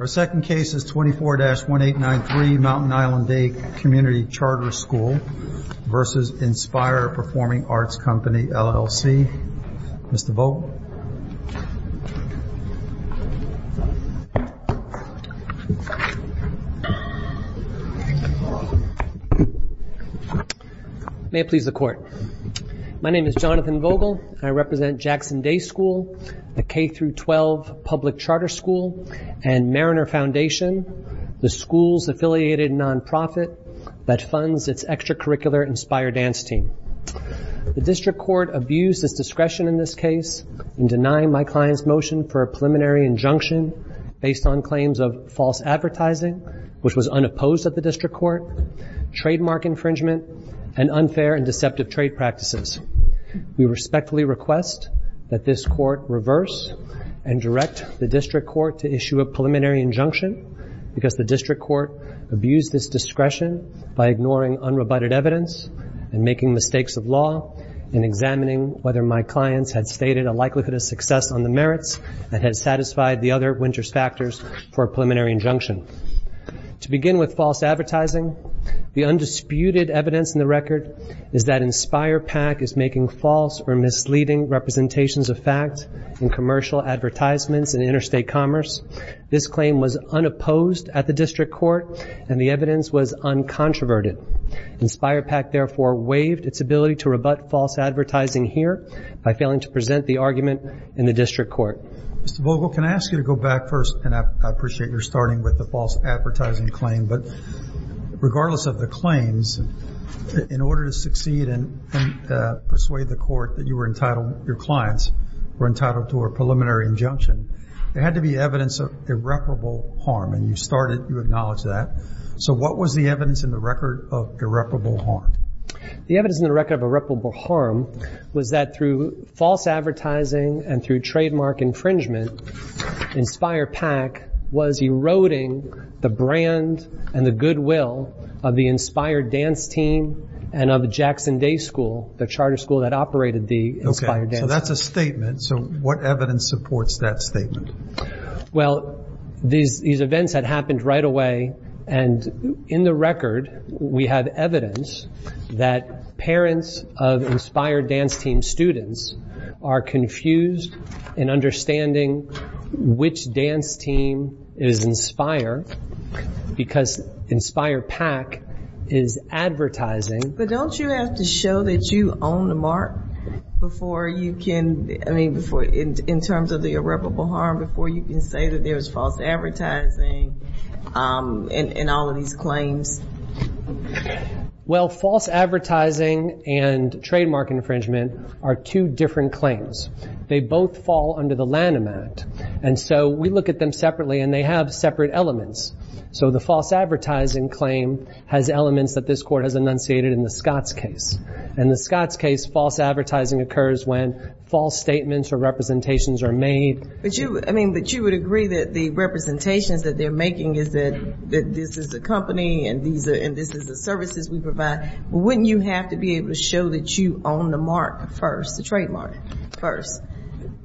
Our second case is 24-1893 Mountain Island Day Community Charter School v. Inspire Performing Arts Company, LLC. Mr. Vogel. May it please the Court. My name is Jonathan Vogel. I represent Jackson Day School, the K-12 public charter school, and Mariner Foundation, the school's affiliated nonprofit that funds its extracurricular inspire dance team. The district court abused its discretion in this case in denying my client's motion for a preliminary injunction based on claims of false advertising, which was unopposed at the district court, trademark infringement, and unfair and deceptive trade practices. We respectfully request that this Court reverse and direct the district court to issue a preliminary injunction because the district court abused its discretion by ignoring unrebutted evidence and making mistakes of law in examining whether my clients had stated a likelihood of success on the merits and had satisfied the other winter's factors for a preliminary injunction. To begin with false advertising, the undisputed evidence in the record is that Inspire PAC is making false or misleading representations of fact in commercial advertisements and interstate commerce. This claim was unopposed at the district court and the evidence was uncontroverted. Inspire PAC therefore waived its ability to rebut false advertising here by failing to present the argument in the district court. Mr. Vogel, can I ask you to go back first, and I appreciate you're starting with the false advertising claim, but regardless of the claims, in order to succeed and persuade the court that your clients were entitled to a preliminary injunction, there had to be evidence of irreparable harm, and you started, you acknowledged that. So what was the evidence in the record of irreparable harm? The evidence in the record of irreparable harm was that through false advertising and through trademark infringement, Inspire PAC was eroding the brand and the goodwill of the Inspire Dance Team and of the Jackson Day School, the charter school that operated the Inspire Dance Team. Okay. So that's a statement. So what evidence supports that statement? Well, these events had happened right away, and in the record, we have evidence that parents of Inspire Dance Team students are confused in understanding which dance team is Inspire because Inspire PAC is advertising. But don't you have to show that you own the mark before you can, I mean, in terms of the irreparable harm, before you can say that there was false advertising in all of these claims? Well, false advertising and trademark infringement are two different claims. They both fall under the Lanham Act, and so we look at them separately, and they have separate elements. So the false advertising claim has elements that this court has enunciated in the Scotts case. In the Scotts case, false advertising occurs when false statements or representations are made. But you would agree that the representations that they're making is that this is a company and this is the services we provide. But wouldn't you have to be able to show that you own the mark first, the trademark first?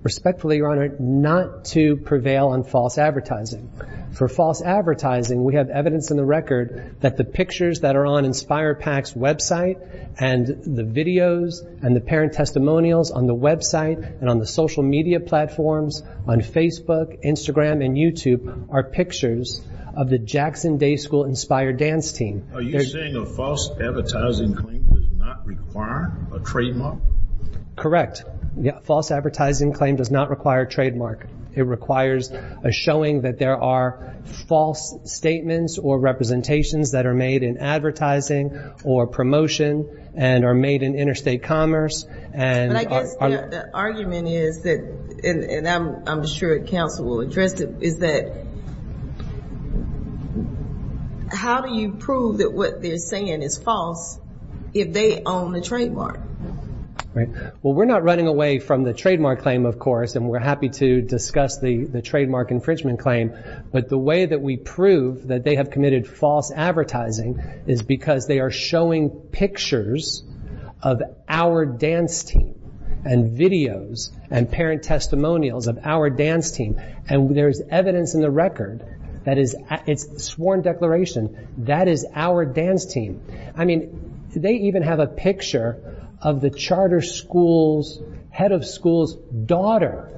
Respectfully, Your Honor, not to prevail on false advertising. For false advertising, we have evidence in the record that the pictures that are on Inspire PAC's website and the videos and the parent testimonials on the website and on the social media platforms on Facebook, Instagram, and YouTube are pictures of the Jackson Day School Inspire Dance Team. Are you saying a false advertising claim does not require a trademark? Correct. False advertising claim does not require a trademark. It requires a showing that there are false statements or representations that are made in advertising or promotion and are made in interstate commerce. But I guess the argument is that, and I'm sure counsel will address it, is that how do you prove that what they're saying is false if they own the trademark? Well, we're not running away from the trademark claim, of course, and we're happy to discuss the trademark infringement claim. But the way that we prove that they have committed false advertising is because they are showing pictures of our dance team and videos and parent testimonials of our dance team. And there's evidence in the record that it's a sworn declaration that is our dance team. I mean, they even have a picture of the charter school's head of school's daughter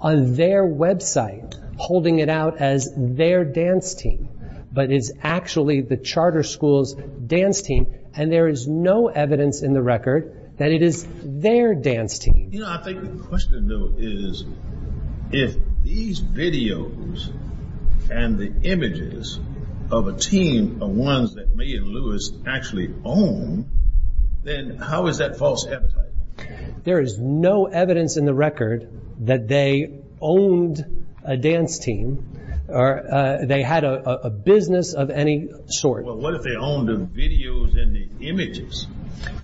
on their website holding it out as their dance team, but it's actually the charter school's dance team. And there is no evidence in the record that it is their dance team. You know, I think the question, though, is if these videos and the images of a team are ones that Mae and Lewis actually own, then how is that false advertising? There is no evidence in the record that they owned a dance team or they had a business of any sort. Well, what if they owned the videos and the images?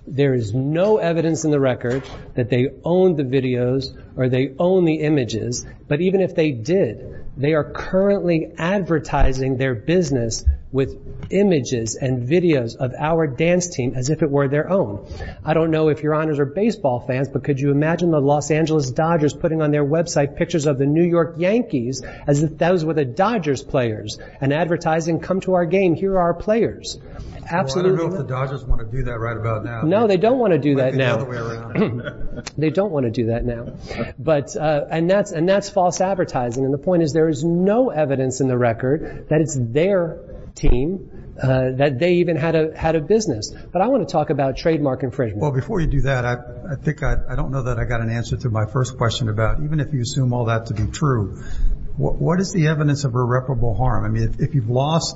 There is no evidence in the record that they owned the videos or they owned the images. But even if they did, they are currently advertising their business with images and videos of our dance team as if it were their own. I don't know if Your Honors are baseball fans, but could you imagine the Los Angeles Dodgers putting on their website pictures of the New York Yankees as if those were the Dodgers players and advertising, come to our game, here are our players? Well, I don't know if the Dodgers want to do that right about now. No, they don't want to do that now. They don't want to do that now. And that's false advertising. And the point is there is no evidence in the record that it's their team, that they even had a business. But I want to talk about trademark infringement. Well, before you do that, I don't know that I got an answer to my first question about, even if you assume all that to be true, what is the evidence of irreparable harm? I mean, if you've lost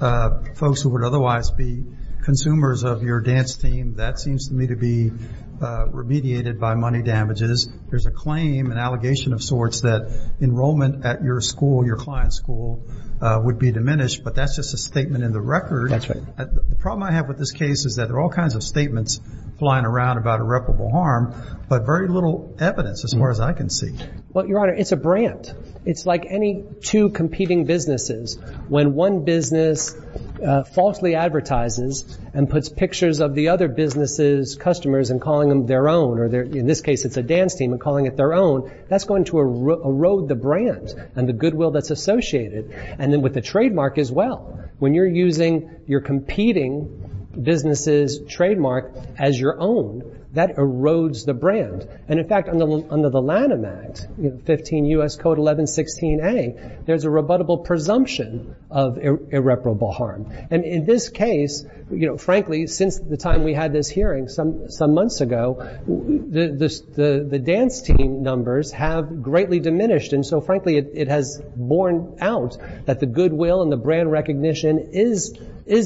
folks who would otherwise be consumers of your dance team, that seems to me to be remediated by money damages. There's a claim, an allegation of sorts that enrollment at your school, your client's school, would be diminished. But that's just a statement in the record. That's right. The problem I have with this case is that there are all kinds of statements flying around about irreparable harm, but very little evidence as far as I can see. Well, Your Honor, it's a brand. It's like any two competing businesses. When one business falsely advertises and puts pictures of the other business's customers and calling them their own, or in this case it's a dance team and calling it their own, that's going to erode the brand and the goodwill that's associated. And then with the trademark as well, when you're using your competing business's trademark as your own, that erodes the brand. And, in fact, under the Lanham Act, 15 U.S. Code 1116A, there's a rebuttable presumption of irreparable harm. And in this case, frankly, since the time we had this hearing some months ago, the dance team numbers have greatly diminished. And so, frankly, it has borne out that the goodwill and the brand recognition is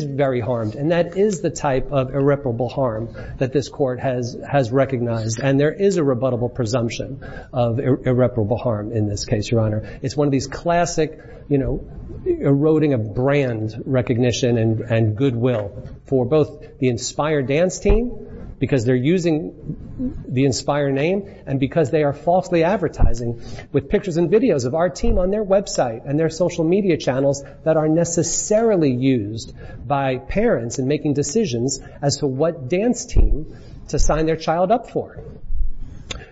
very harmed, and that is the type of irreparable harm that this court has recognized. And there is a rebuttable presumption of irreparable harm in this case, Your Honor. It's one of these classic eroding of brand recognition and goodwill for both the inspired dance team, because they're using the inspire name, and because they are falsely advertising with pictures and videos of our team on their website and their social media channels that are necessarily used by parents in making decisions as to what dance team to sign their child up for.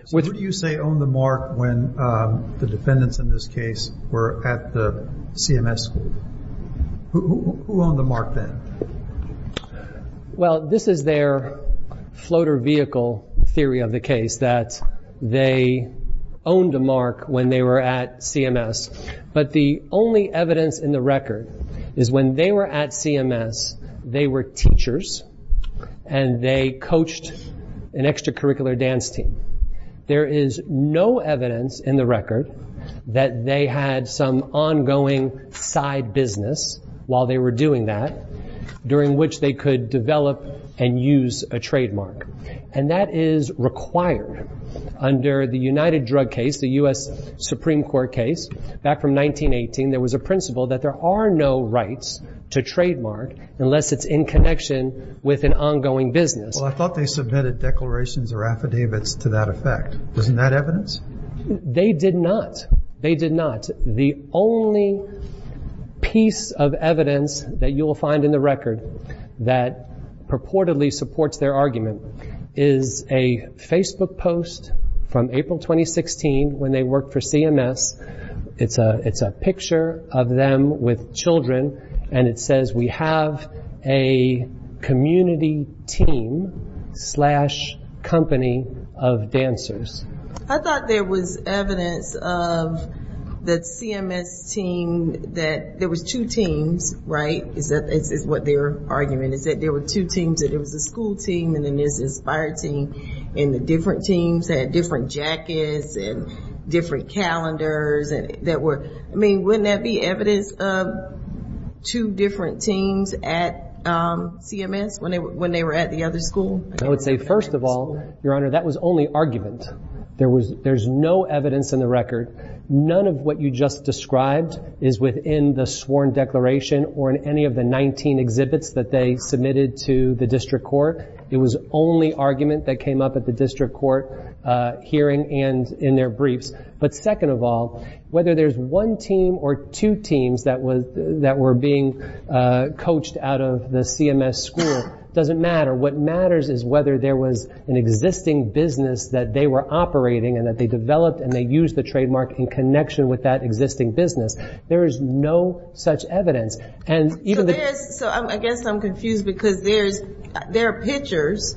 So who do you say owned the mark when the defendants in this case were at the CMS school? Who owned the mark then? Well, this is their floater vehicle theory of the case, that they owned a mark when they were at CMS. But the only evidence in the record is when they were at CMS, they were teachers, and they coached an extracurricular dance team. There is no evidence in the record that they had some ongoing side business while they were doing that during which they could develop and use a trademark. And that is required under the United Drug case, the U.S. Supreme Court case back from 1918. There was a principle that there are no rights to trademark unless it's in connection with an ongoing business. Well, I thought they submitted declarations or affidavits to that effect. Wasn't that evidence? They did not. The only piece of evidence that you will find in the record that purportedly supports their argument is a Facebook post from April 2016 when they worked for CMS. It's a picture of them with children, and it says, we have a community team slash company of dancers. I thought there was evidence of the CMS team that there was two teams, right, is what their argument is, that there were two teams, that there was a school team and then there's an inspired team, and the different teams had different jackets and different calendars. I mean, wouldn't that be evidence of two different teams at CMS when they were at the other school? I would say, first of all, Your Honor, that was only argument. There's no evidence in the record. None of what you just described is within the sworn declaration or in any of the 19 exhibits that they submitted to the district court. It was only argument that came up at the district court hearing and in their briefs. But second of all, whether there's one team or two teams that were being coached out of the CMS school doesn't matter. What matters is whether there was an existing business that they were operating and that they developed and they used the trademark in connection with that existing business. There is no such evidence. So I guess I'm confused because there are pictures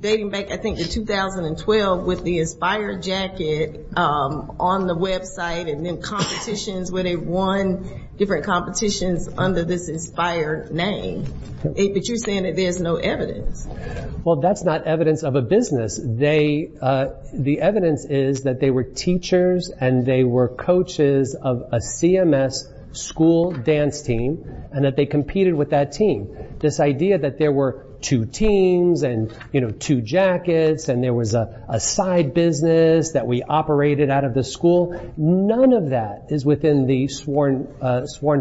dating back, I think, to 2012 with the inspired jacket on the website and then competitions where they won different competitions under this inspired name. But you're saying that there's no evidence. Well, that's not evidence of a business. The evidence is that they were teachers and they were coaches of a CMS school dance team and that they competed with that team. This idea that there were two teams and two jackets and there was a side business that we operated out of the school, none of that is within the sworn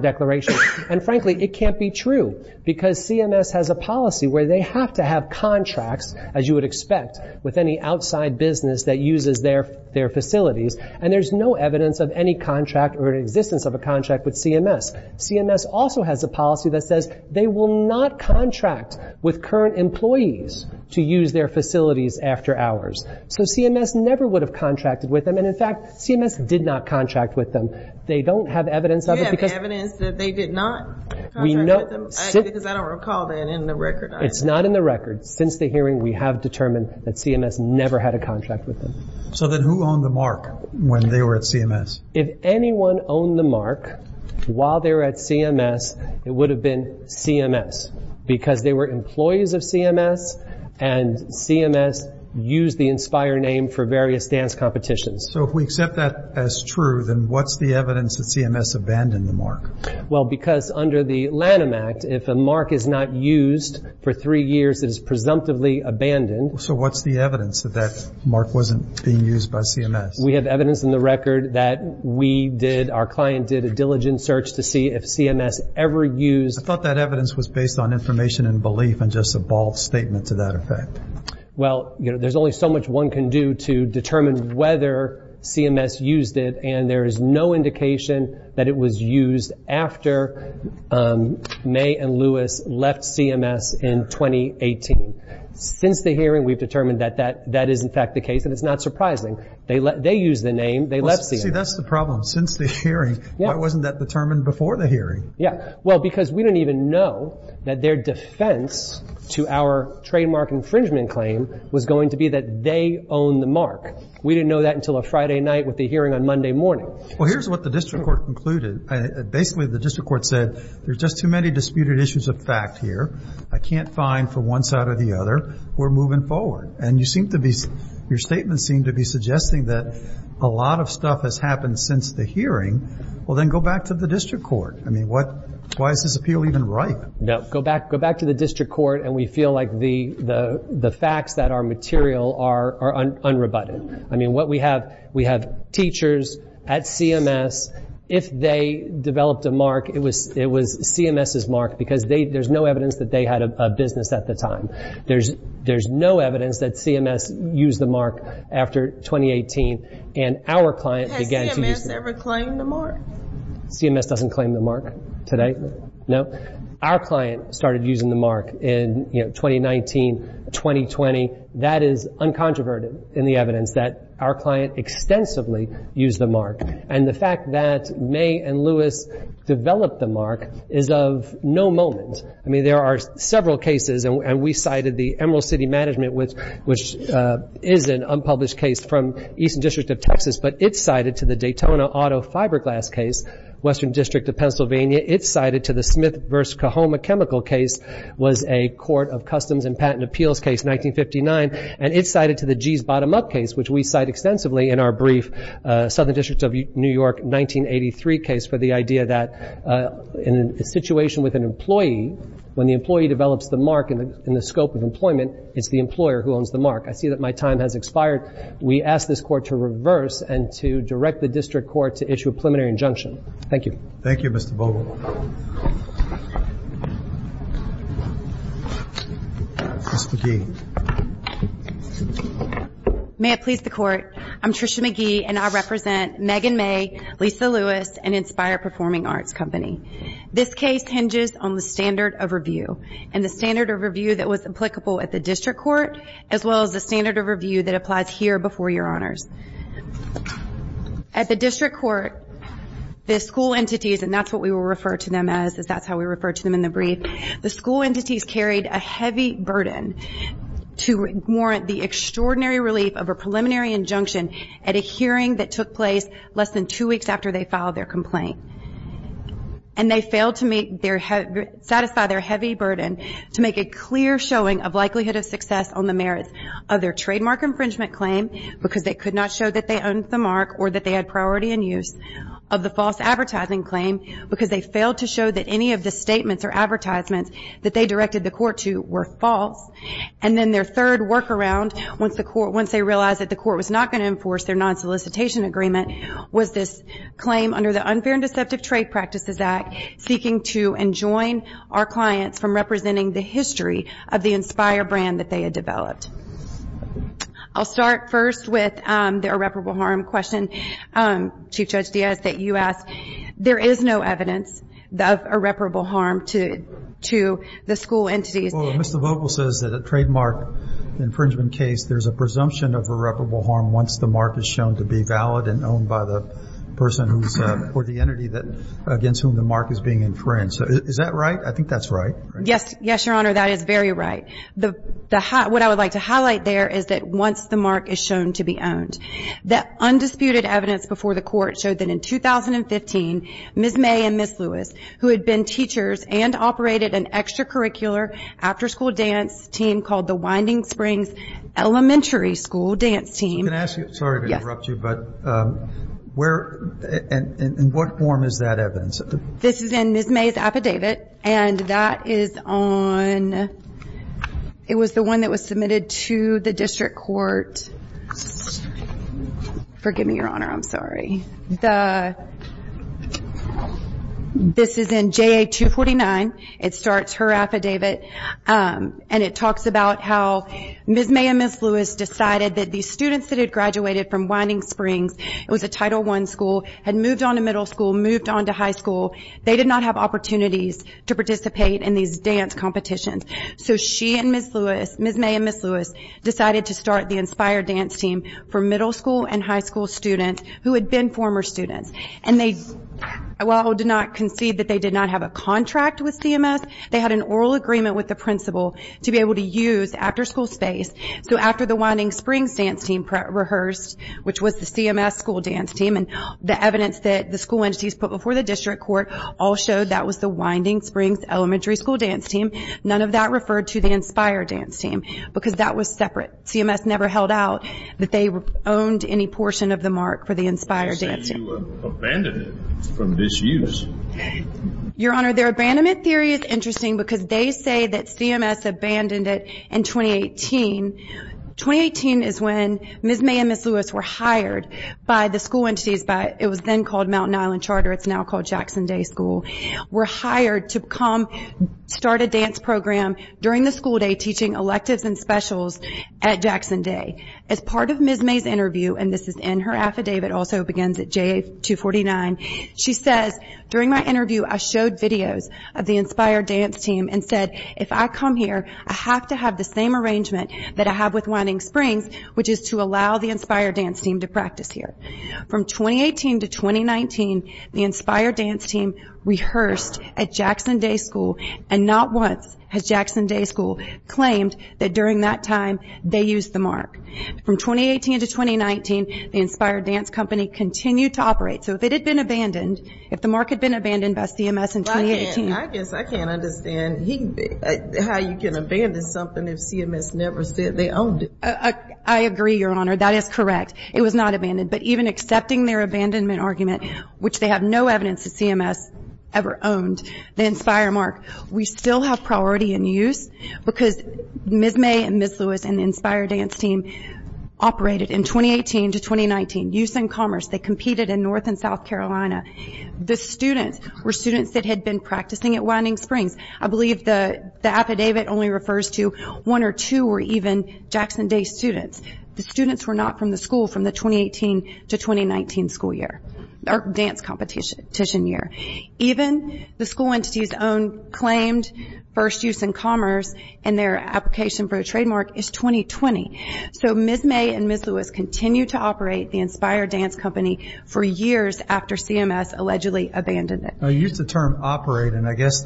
declaration. And frankly, it can't be true because CMS has a policy where they have to have contracts, as you would expect, with any outside business that uses their facilities, and there's no evidence of any contract or existence of a contract with CMS. CMS also has a policy that says they will not contract with current employees to use their facilities after hours. So CMS never would have contracted with them, and in fact, CMS did not contract with them. They don't have evidence of it because Is there evidence that they did not contract with them? Because I don't recall that in the record. It's not in the record. Since the hearing, we have determined that CMS never had a contract with them. So then who owned the mark when they were at CMS? If anyone owned the mark while they were at CMS, it would have been CMS because they were employees of CMS and CMS used the Inspire name for various dance competitions. So if we accept that as true, then what's the evidence that CMS abandoned the mark? Well, because under the Lanham Act, if a mark is not used for three years, it is presumptively abandoned. So what's the evidence that that mark wasn't being used by CMS? We have evidence in the record that we did, our client did, a diligent search to see if CMS ever used I thought that evidence was based on information and belief and just a bald statement to that effect. Well, there's only so much one can do to determine whether CMS used it and there is no indication that it was used after May and Lewis left CMS in 2018. Since the hearing, we've determined that that is in fact the case and it's not surprising. They used the name, they left CMS. See, that's the problem. Since the hearing, why wasn't that determined before the hearing? Yeah, well, because we don't even know that their defense to our trademark infringement claim was going to be that they owned the mark. We didn't know that until a Friday night with the hearing on Monday morning. Well, here's what the district court concluded. Basically, the district court said there's just too many disputed issues of fact here. I can't find from one side or the other. We're moving forward. And your statement seemed to be suggesting that a lot of stuff has happened since the hearing. Well, then go back to the district court. I mean, why is this appeal even right? No, go back to the district court and we feel like the facts that are material are unrebutted. I mean, we have teachers at CMS. If they developed a mark, it was CMS's mark because there's no evidence that they had a business at the time. There's no evidence that CMS used the mark after 2018. Has CMS ever claimed the mark? CMS doesn't claim the mark today, no. Our client started using the mark in 2019, 2020. That is uncontroverted in the evidence that our client extensively used the mark. And the fact that May and Lewis developed the mark is of no moment. I mean, there are several cases, and we cited the Emerald City Management, which is an unpublished case from Eastern District of Texas, but it's cited to the Daytona Auto Fiberglass case, Western District of Pennsylvania. It's cited to the Smith v. Kahoma chemical case, was a court of customs and patent appeals case, 1959. And it's cited to the Gee's Bottom-Up case, which we cite extensively in our brief Southern District of New York 1983 case for the idea that in a situation with an employee, when the employee develops the mark in the scope of employment, it's the employer who owns the mark. I see that my time has expired. We ask this court to reverse and to direct the district court to issue a preliminary injunction. Thank you. Thank you, Mr. Bowman. Ms. McGee. May it please the Court, I'm Tricia McGee, and I represent Megan May, Lisa Lewis, and Inspire Performing Arts Company. This case hinges on the standard of review, and the standard of review that was applicable at the district court, as well as the standard of review that applies here before your honors. At the district court, the school entities, and that's what we will refer to them as is that's how we refer to them in the brief, the school entities carried a heavy burden to warrant the extraordinary relief of a preliminary injunction at a hearing that took place less than two weeks after they filed their complaint. And they failed to satisfy their heavy burden to make a clear showing of likelihood of success on the merits of their trademark infringement claim, because they could not show that they owned the mark or that they had priority in use, of the false advertising claim, because they failed to show that any of the statements or advertisements that they directed the court to were false. And then their third workaround, once they realized that the court was not going to enforce their non-solicitation agreement, was this claim under the Unfair and Deceptive Trade Practices Act, seeking to enjoin our clients from representing the history of the Inspire brand that they had developed. I'll start first with the irreparable harm question, Chief Judge Diaz, that you asked. There is no evidence of irreparable harm to the school entities. Well, Mr. Vogel says that a trademark infringement case, there's a presumption of irreparable harm once the mark is shown to be valid and owned by the person or the entity against whom the mark is being infringed. Is that right? I think that's right. Yes, Your Honor, that is very right. What I would like to highlight there is that once the mark is shown to be owned. The undisputed evidence before the court showed that in 2015, Ms. May and Ms. Lewis, who had been teachers and operated an extracurricular after-school dance team called the Winding Springs Elementary School Dance Team. Can I ask you, sorry to interrupt you, but where and in what form is that evidence? This is in Ms. May's affidavit, and that is on, it was the one that was submitted to the district court. Forgive me, Your Honor, I'm sorry. This is in JA 249. It starts her affidavit, and it talks about how Ms. May and Ms. Lewis decided that the students that had graduated from Winding Springs, it was a Title I school, had moved on to middle school, moved on to high school. They did not have opportunities to participate in these dance competitions. So she and Ms. Lewis, Ms. May and Ms. Lewis, decided to start the Inspire Dance Team for middle school and high school students who had been former students. And while they did not concede that they did not have a contract with CMS, they had an oral agreement with the principal to be able to use after-school space. So after the Winding Springs Dance Team rehearsed, which was the CMS school dance team, and the evidence that the school entities put before the district court all showed that was the Winding Springs Elementary School Dance Team, none of that referred to the Inspire Dance Team because that was separate. CMS never held out that they owned any portion of the mark for the Inspire Dance Team. You say you abandoned it from this use. Your Honor, their abandonment theory is interesting because they say that CMS abandoned it in 2018. 2018 is when Ms. May and Ms. Lewis were hired by the school entities, it was then called Mountain Island Charter, it's now called Jackson Day School, were hired to come start a dance program during the school day, teaching electives and specials at Jackson Day. As part of Ms. May's interview, and this is in her affidavit, also begins at JA 249, she says, during my interview I showed videos of the Inspire Dance Team and said, if I come here, I have to have the same arrangement that I have with Winding Springs, which is to allow the Inspire Dance Team to practice here. From 2018 to 2019, the Inspire Dance Team rehearsed at Jackson Day School and not once has Jackson Day School claimed that during that time they used the mark. From 2018 to 2019, the Inspire Dance Company continued to operate. So if it had been abandoned, if the mark had been abandoned by CMS in 2018. I guess I can't understand how you can abandon something if CMS never said they owned it. I agree, Your Honor, that is correct. It was not abandoned, but even accepting their abandonment argument, which they have no evidence that CMS ever owned the Inspire mark, we still have priority in use because Ms. May and Ms. Lewis and the Inspire Dance Team operated in 2018 to 2019. Use and commerce, they competed in North and South Carolina. The students were students that had been practicing at Winding Springs. I believe the affidavit only refers to one or two were even Jackson Day students. The students were not from the school from the 2018 to 2019 school year, or dance competition year. Even the school entity's own claimed first use and commerce and their application for a trademark is 2020. So Ms. May and Ms. Lewis continued to operate the Inspire Dance Company for years after CMS allegedly abandoned it. You used the term operate, and I guess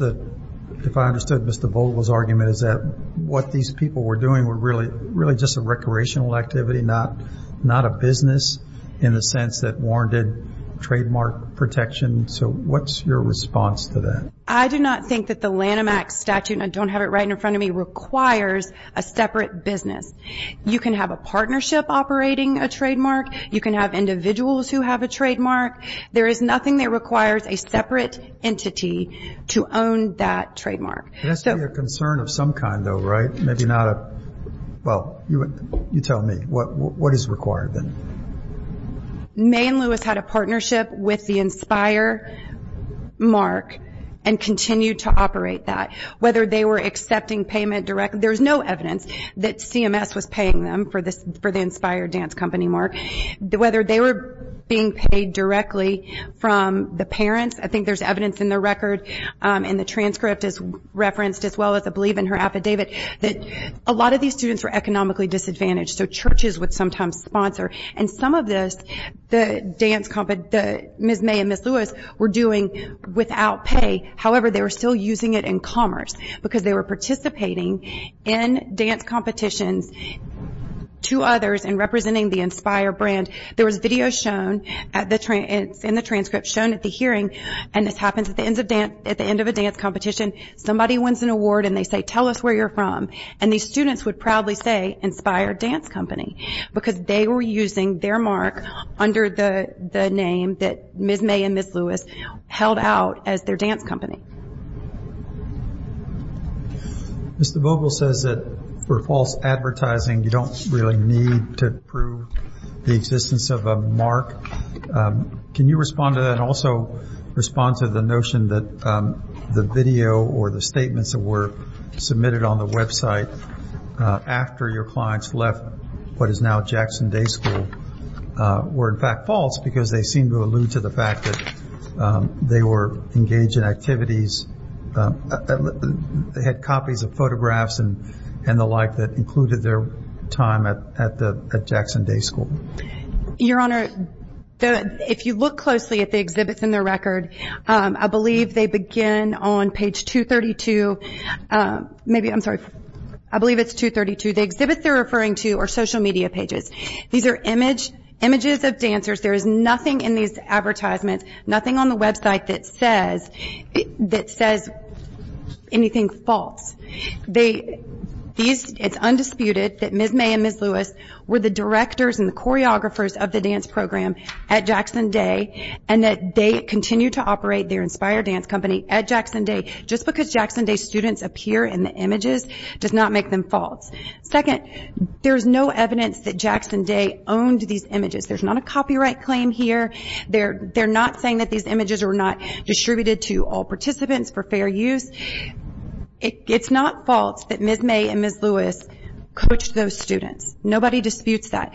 if I understood Mr. Vogel's argument, is that what these people were doing were really just a recreational activity, not a business in the sense that warranted trademark protection. So what's your response to that? I do not think that the Lanham Act statute, and I don't have it right in front of me, requires a separate business. You can have a partnership operating a trademark. You can have individuals who have a trademark. There is nothing that requires a separate entity to own that trademark. It has to be a concern of some kind, though, right? Maybe not a, well, you tell me. What is required then? May and Lewis had a partnership with the Inspire mark and continued to operate that. Whether they were accepting payment directly, there is no evidence that CMS was paying them for the Inspire Dance Company mark. Whether they were being paid directly from the parents, I think there's evidence in the record and the transcript is referenced, as well as I believe in her affidavit, that a lot of these students were economically disadvantaged, so churches would sometimes sponsor. And some of this, Ms. May and Ms. Lewis were doing without pay. However, they were still using it in commerce because they were participating in dance competitions to others and representing the Inspire brand. And there was video shown in the transcript, shown at the hearing, and this happens at the end of a dance competition. Somebody wins an award and they say, tell us where you're from. And these students would proudly say, Inspire Dance Company, because they were using their mark under the name that Ms. May and Ms. Lewis held out as their dance company. Mr. Vogel says that for false advertising, you don't really need to prove the existence of a mark. Can you respond to that and also respond to the notion that the video or the statements that were submitted on the website after your clients left what is now Jackson Day School were, in fact, false, because they seemed to allude to the fact that they were engaged in activities, had copies of photographs and the like that included their time at Jackson Day School? Your Honor, if you look closely at the exhibits in the record, I believe they begin on page 232. Maybe, I'm sorry, I believe it's 232. The exhibits they're referring to are social media pages. These are images of dancers. There is nothing in these advertisements, nothing on the website that says anything false. It's undisputed that Ms. May and Ms. Lewis were the directors and the choreographers of the dance program at Jackson Day and that they continue to operate their Inspire Dance Company at Jackson Day just because Jackson Day students appear in the images does not make them false. Second, there's no evidence that Jackson Day owned these images. There's not a copyright claim here. They're not saying that these images were not distributed to all participants for fair use. It's not false that Ms. May and Ms. Lewis coached those students. Nobody disputes that.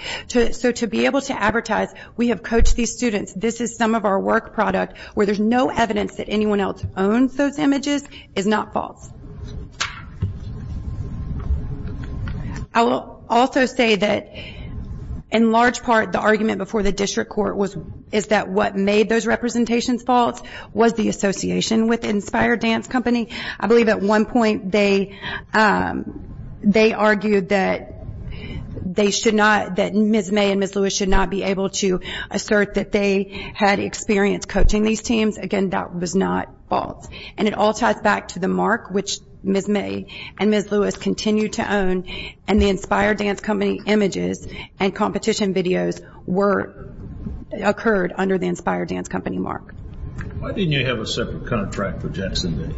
So to be able to advertise, we have coached these students, this is some of our work product, where there's no evidence that anyone else owns those images is not false. I will also say that in large part the argument before the district court is that what made those representations false was the association with Inspire Dance Company. I believe at one point they argued that they should not, that Ms. May and Ms. Lewis should not be able to assert that they had experience coaching these teams. Again, that was not false. And it all ties back to the mark which Ms. May and Ms. Lewis continue to own and the Inspire Dance Company images and competition videos occurred under the Inspire Dance Company mark. Why didn't you have a separate contract for Jackson Day?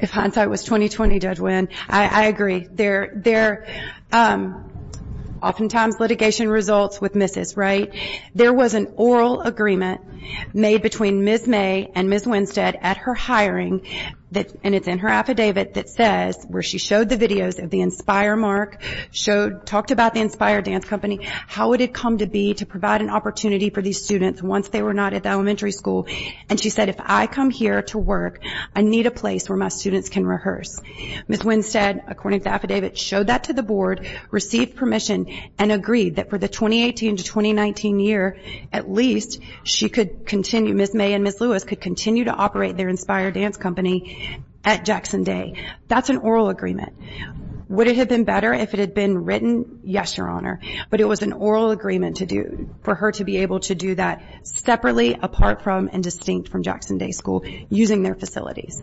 If hindsight was 20-20, Judge Wynn, I agree. There are oftentimes litigation results with misses, right? There was an oral agreement made between Ms. May and Ms. Winstead at her hiring, and it's in her affidavit that says where she showed the videos of the Inspire mark, talked about the Inspire Dance Company, how would it come to be to provide an opportunity for these students once they were not at the elementary school. And she said, if I come here to work, I need a place where my students can rehearse. Ms. Winstead, according to the affidavit, showed that to the board, received permission, and agreed that for the 2018 to 2019 year, at least Ms. May and Ms. Lewis could continue to operate their Inspire Dance Company at Jackson Day. That's an oral agreement. Would it have been better if it had been written? Yes, Your Honor. But it was an oral agreement for her to be able to do that separately, apart from, and distinct from Jackson Day School using their facilities.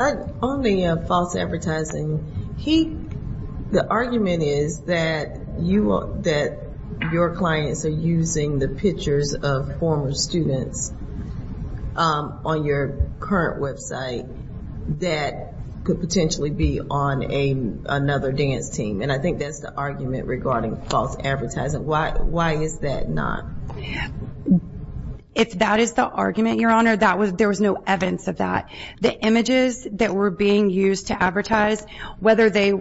On the false advertising, the argument is that your clients are using the pictures of former students on your current website that could potentially be on another dance team, and I think that's the argument regarding false advertising. Why is that not? If that is the argument, Your Honor, there was no evidence of that. The images that were being used to advertise, whether they,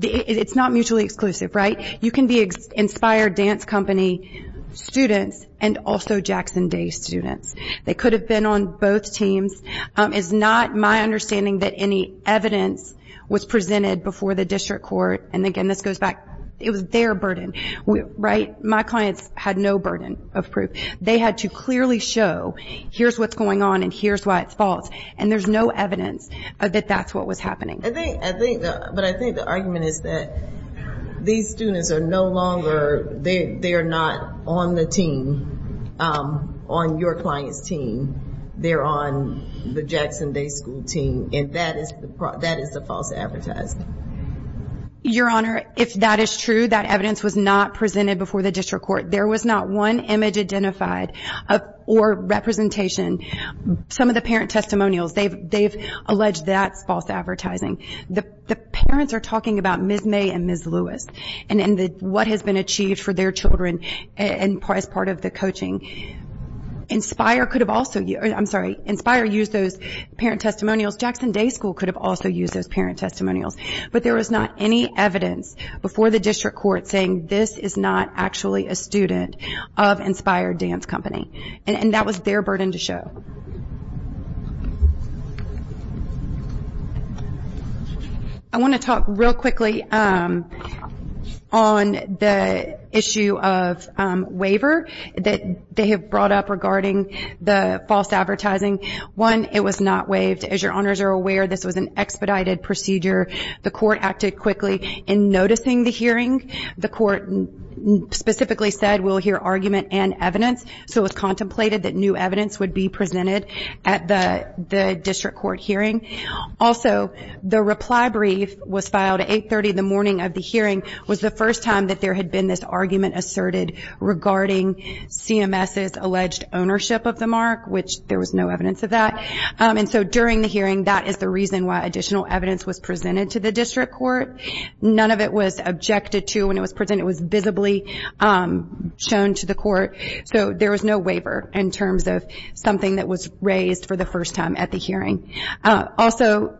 it's not mutually exclusive, right? You can be Inspire Dance Company students and also Jackson Day students. They could have been on both teams. It's not my understanding that any evidence was presented before the district court, and again, this goes back, it was their burden, right? My clients had no burden of proof. They had to clearly show, here's what's going on and here's why it's false, and there's no evidence that that's what was happening. But I think the argument is that these students are no longer, they are not on the team, on your client's team. They're on the Jackson Day School team, and that is the false advertising. Your Honor, if that is true, that evidence was not presented before the district court. There was not one image identified or representation. Some of the parent testimonials, they've alleged that's false advertising. The parents are talking about Ms. May and Ms. Lewis and what has been achieved for their children as part of the coaching. Inspire could have also, I'm sorry, Inspire used those parent testimonials. Jackson Day School could have also used those parent testimonials, but there was not any evidence before the district court saying this is not actually a student of Inspire Dance Company, and that was their burden to show. I want to talk real quickly on the issue of waiver that they have brought up regarding the false advertising. One, it was not waived. As your honors are aware, this was an expedited procedure. The court acted quickly in noticing the hearing. The court specifically said we'll hear argument and evidence, so it was contemplated that new evidence would be presented at the district court hearing. Also, the reply brief was filed at 830 the morning of the hearing. It was the first time that there had been this argument asserted regarding CMS's alleged ownership of the mark, which there was no evidence of that. And so during the hearing, that is the reason why additional evidence was presented to the district court. None of it was objected to when it was presented. It was visibly shown to the court. So there was no waiver in terms of something that was raised for the first time at the hearing. Also,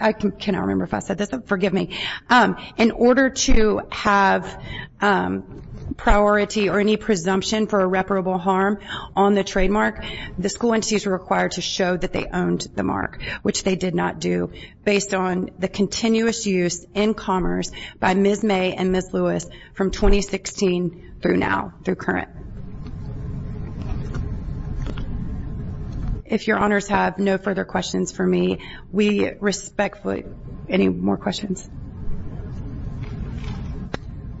I cannot remember if I said this. Forgive me. In order to have priority or any presumption for irreparable harm on the trademark, the school entities were required to show that they owned the mark, which they did not do based on the continuous use in commerce by Ms. May and Ms. Lewis from 2016 through now, through current. If your honors have no further questions for me, we respectfully. Any more questions?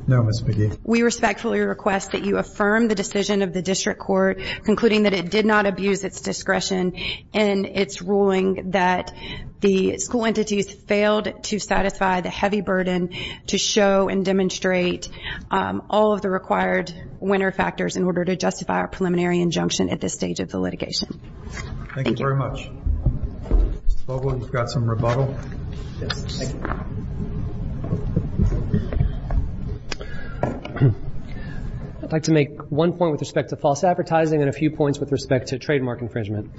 No, Ms. McGee. We respectfully request that you affirm the decision of the district court, concluding that it did not abuse its discretion in its ruling, that the school entities failed to satisfy the heavy burden to show and demonstrate all of the required winner factors in order to justify a preliminary injunction at this stage of the litigation. Thank you very much. Mr. Vogel, you've got some rebuttal. Thank you. I'd like to make one point with respect to false advertising and a few points with respect to trademark infringement.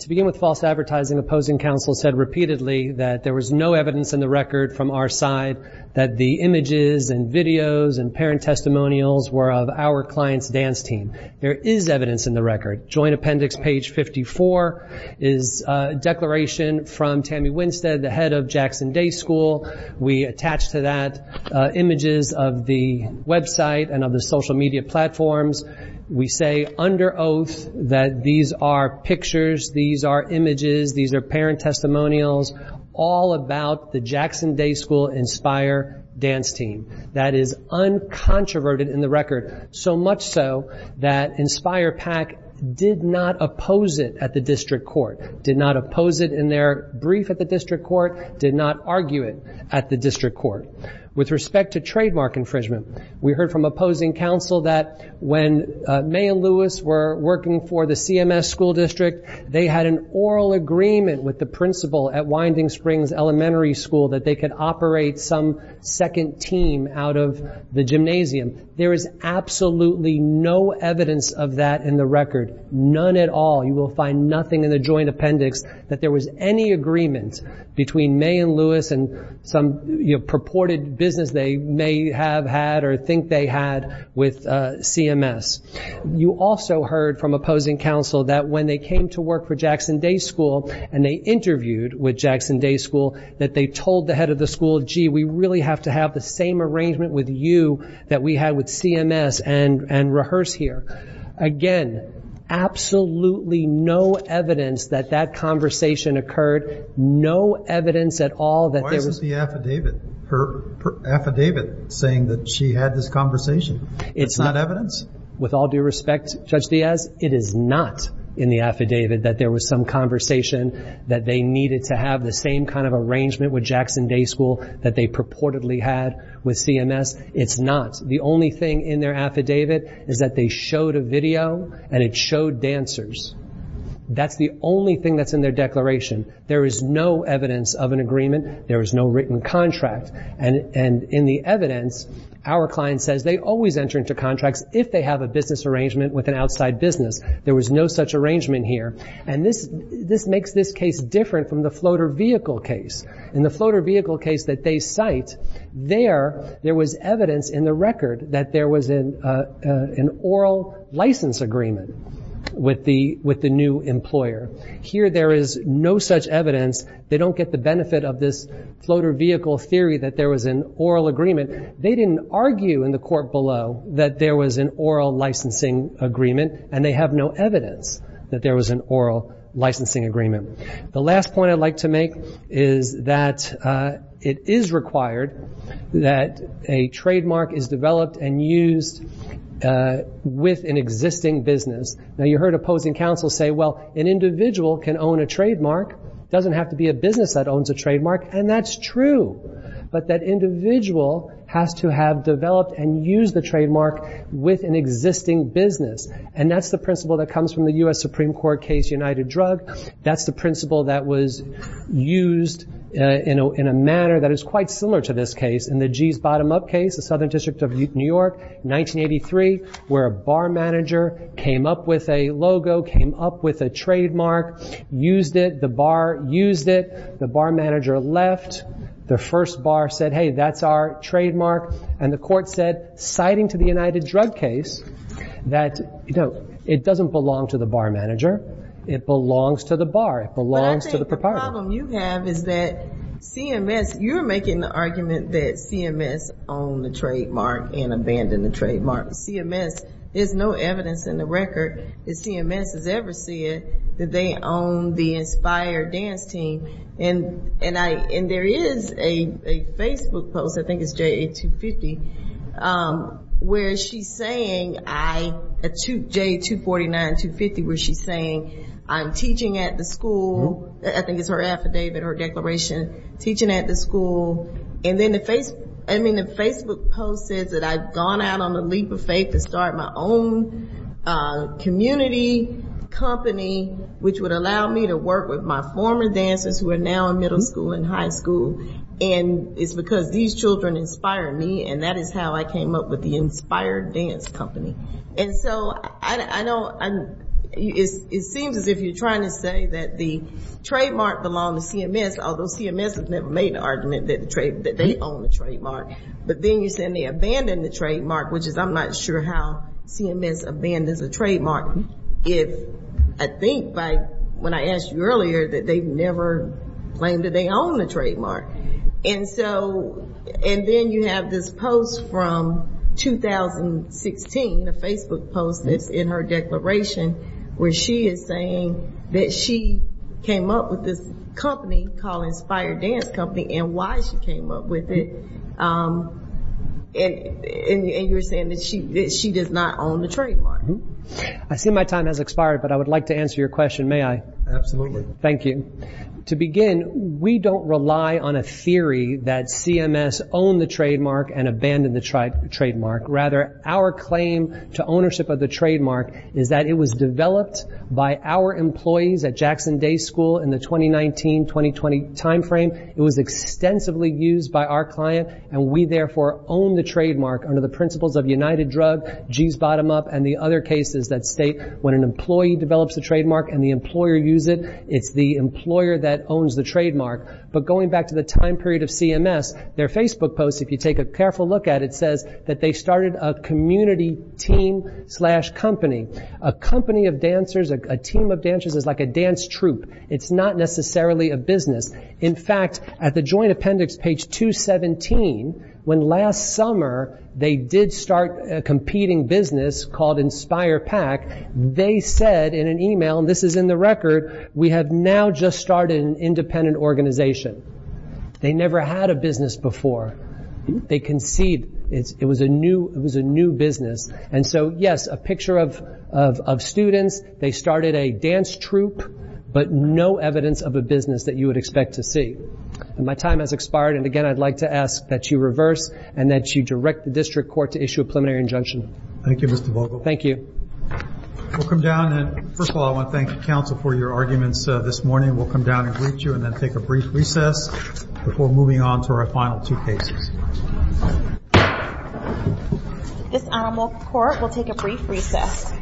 To begin with false advertising, opposing counsel said repeatedly that there was no evidence in the record from our side that the images and videos and parent testimonials were of our client's dance team. There is evidence in the record. Joint appendix page 54 is a declaration from Tammy Winstead, the head of Jackson Day School. We attach to that images of the website and of the social media platforms. We say under oath that these are pictures, these are images, these are parent testimonials, all about the Jackson Day School Inspire dance team. That is uncontroverted in the record, so much so that Inspire PAC did not oppose it at the district court, did not oppose it in their brief at the district court, did not argue it at the district court. With respect to trademark infringement, we heard from opposing counsel that when May and Lewis were working for the CMS school district, they had an oral agreement with the principal at Winding Springs Elementary School that they could operate some second team out of the gymnasium. There is absolutely no evidence of that in the record, none at all. You will find nothing in the joint appendix that there was any agreement between May and Lewis and some purported business they may have had or think they had with CMS. You also heard from opposing counsel that when they came to work for Jackson Day School and they interviewed with Jackson Day School that they told the head of the school, gee, we really have to have the same arrangement with you that we had with CMS and rehearse here. Again, absolutely no evidence that that conversation occurred, no evidence at all that there was. Why isn't the affidavit, her affidavit saying that she had this conversation? It's not evidence? With all due respect, Judge Diaz, it is not in the affidavit that there was some conversation that they needed to have the same kind of arrangement with Jackson Day School that they purportedly had with CMS. It's not. The only thing in their affidavit is that they showed a video and it showed dancers. That's the only thing that's in their declaration. There is no evidence of an agreement. There is no written contract. And in the evidence, our client says they always enter into contracts if they have a business arrangement with an outside business. There was no such arrangement here. And this makes this case different from the floater vehicle case. In the floater vehicle case that they cite, there was evidence in the record that there was an oral license agreement with the new employer. Here there is no such evidence. They don't get the benefit of this floater vehicle theory that there was an oral agreement. They didn't argue in the court below that there was an oral licensing agreement, and they have no evidence that there was an oral licensing agreement. The last point I'd like to make is that it is required that a trademark is developed and used with an existing business. Now you heard opposing counsel say, well, an individual can own a trademark. It doesn't have to be a business that owns a trademark. And that's true. But that individual has to have developed and used the trademark with an existing business. And that's the principle that comes from the U.S. Supreme Court case, United Drug. That's the principle that was used in a manner that is quite similar to this case. In the G's bottom-up case, the Southern District of New York, 1983, where a bar manager came up with a logo, came up with a trademark, used it. The bar used it. The bar manager left. The first bar said, hey, that's our trademark. And the court said, citing to the United Drug case, that it doesn't belong to the bar manager. It belongs to the bar. It belongs to the proprietor. But I think the problem you have is that CMS, you're making the argument that CMS owned the trademark and abandoned the trademark. CMS, there's no evidence in the record that CMS has ever said that they own the Inspire Dance Team. And there is a Facebook post, I think it's JA-250, where she's saying, JA-249, 250, where she's saying, I'm teaching at the school. I think it's her affidavit or declaration, teaching at the school. And then the Facebook post says that I've gone out on a leap of faith to start my own community company. Which would allow me to work with my former dancers who are now in middle school and high school, and it's because these children inspire me, and that is how I came up with the Inspire Dance Company. And so I know it seems as if you're trying to say that the trademark belonged to CMS, although CMS has never made the argument that they own the trademark. But then you're saying they abandoned the trademark, which is I'm not sure how CMS abandons a trademark if, I think by when I asked you earlier, that they've never claimed that they own the trademark. And then you have this post from 2016, a Facebook post that's in her declaration, where she is saying that she came up with this company called Inspire Dance Company and why she came up with it, and you're saying that she does not own the trademark. I see my time has expired, but I would like to answer your question, may I? Absolutely. Thank you. To begin, we don't rely on a theory that CMS owned the trademark and abandoned the trademark. Rather, our claim to ownership of the trademark is that it was developed by our employees at Jackson Day School in the 2019-2020 timeframe. It was extensively used by our client, and we therefore own the trademark under the principles of United Drug, G's Bottom Up, and the other cases that state when an employee develops a trademark and the employer uses it, it's the employer that owns the trademark. But going back to the time period of CMS, their Facebook post, if you take a careful look at it, says that they started a community team slash company. A company of dancers, a team of dancers is like a dance troupe. It's not necessarily a business. In fact, at the joint appendix, page 217, when last summer they did start a competing business called Inspire Pack, they said in an email, and this is in the record, we have now just started an independent organization. They never had a business before. They conceived it was a new business. And so, yes, a picture of students, they started a dance troupe, but no evidence of a business that you would expect to see. My time has expired, and again, I'd like to ask that you reverse and that you direct the district court to issue a preliminary injunction. Thank you, Mr. Vogel. Thank you. We'll come down, and first of all, I want to thank the counsel for your arguments this morning. We'll come down and greet you and then take a brief recess before moving on to our final two cases. This animal court will take a brief recess.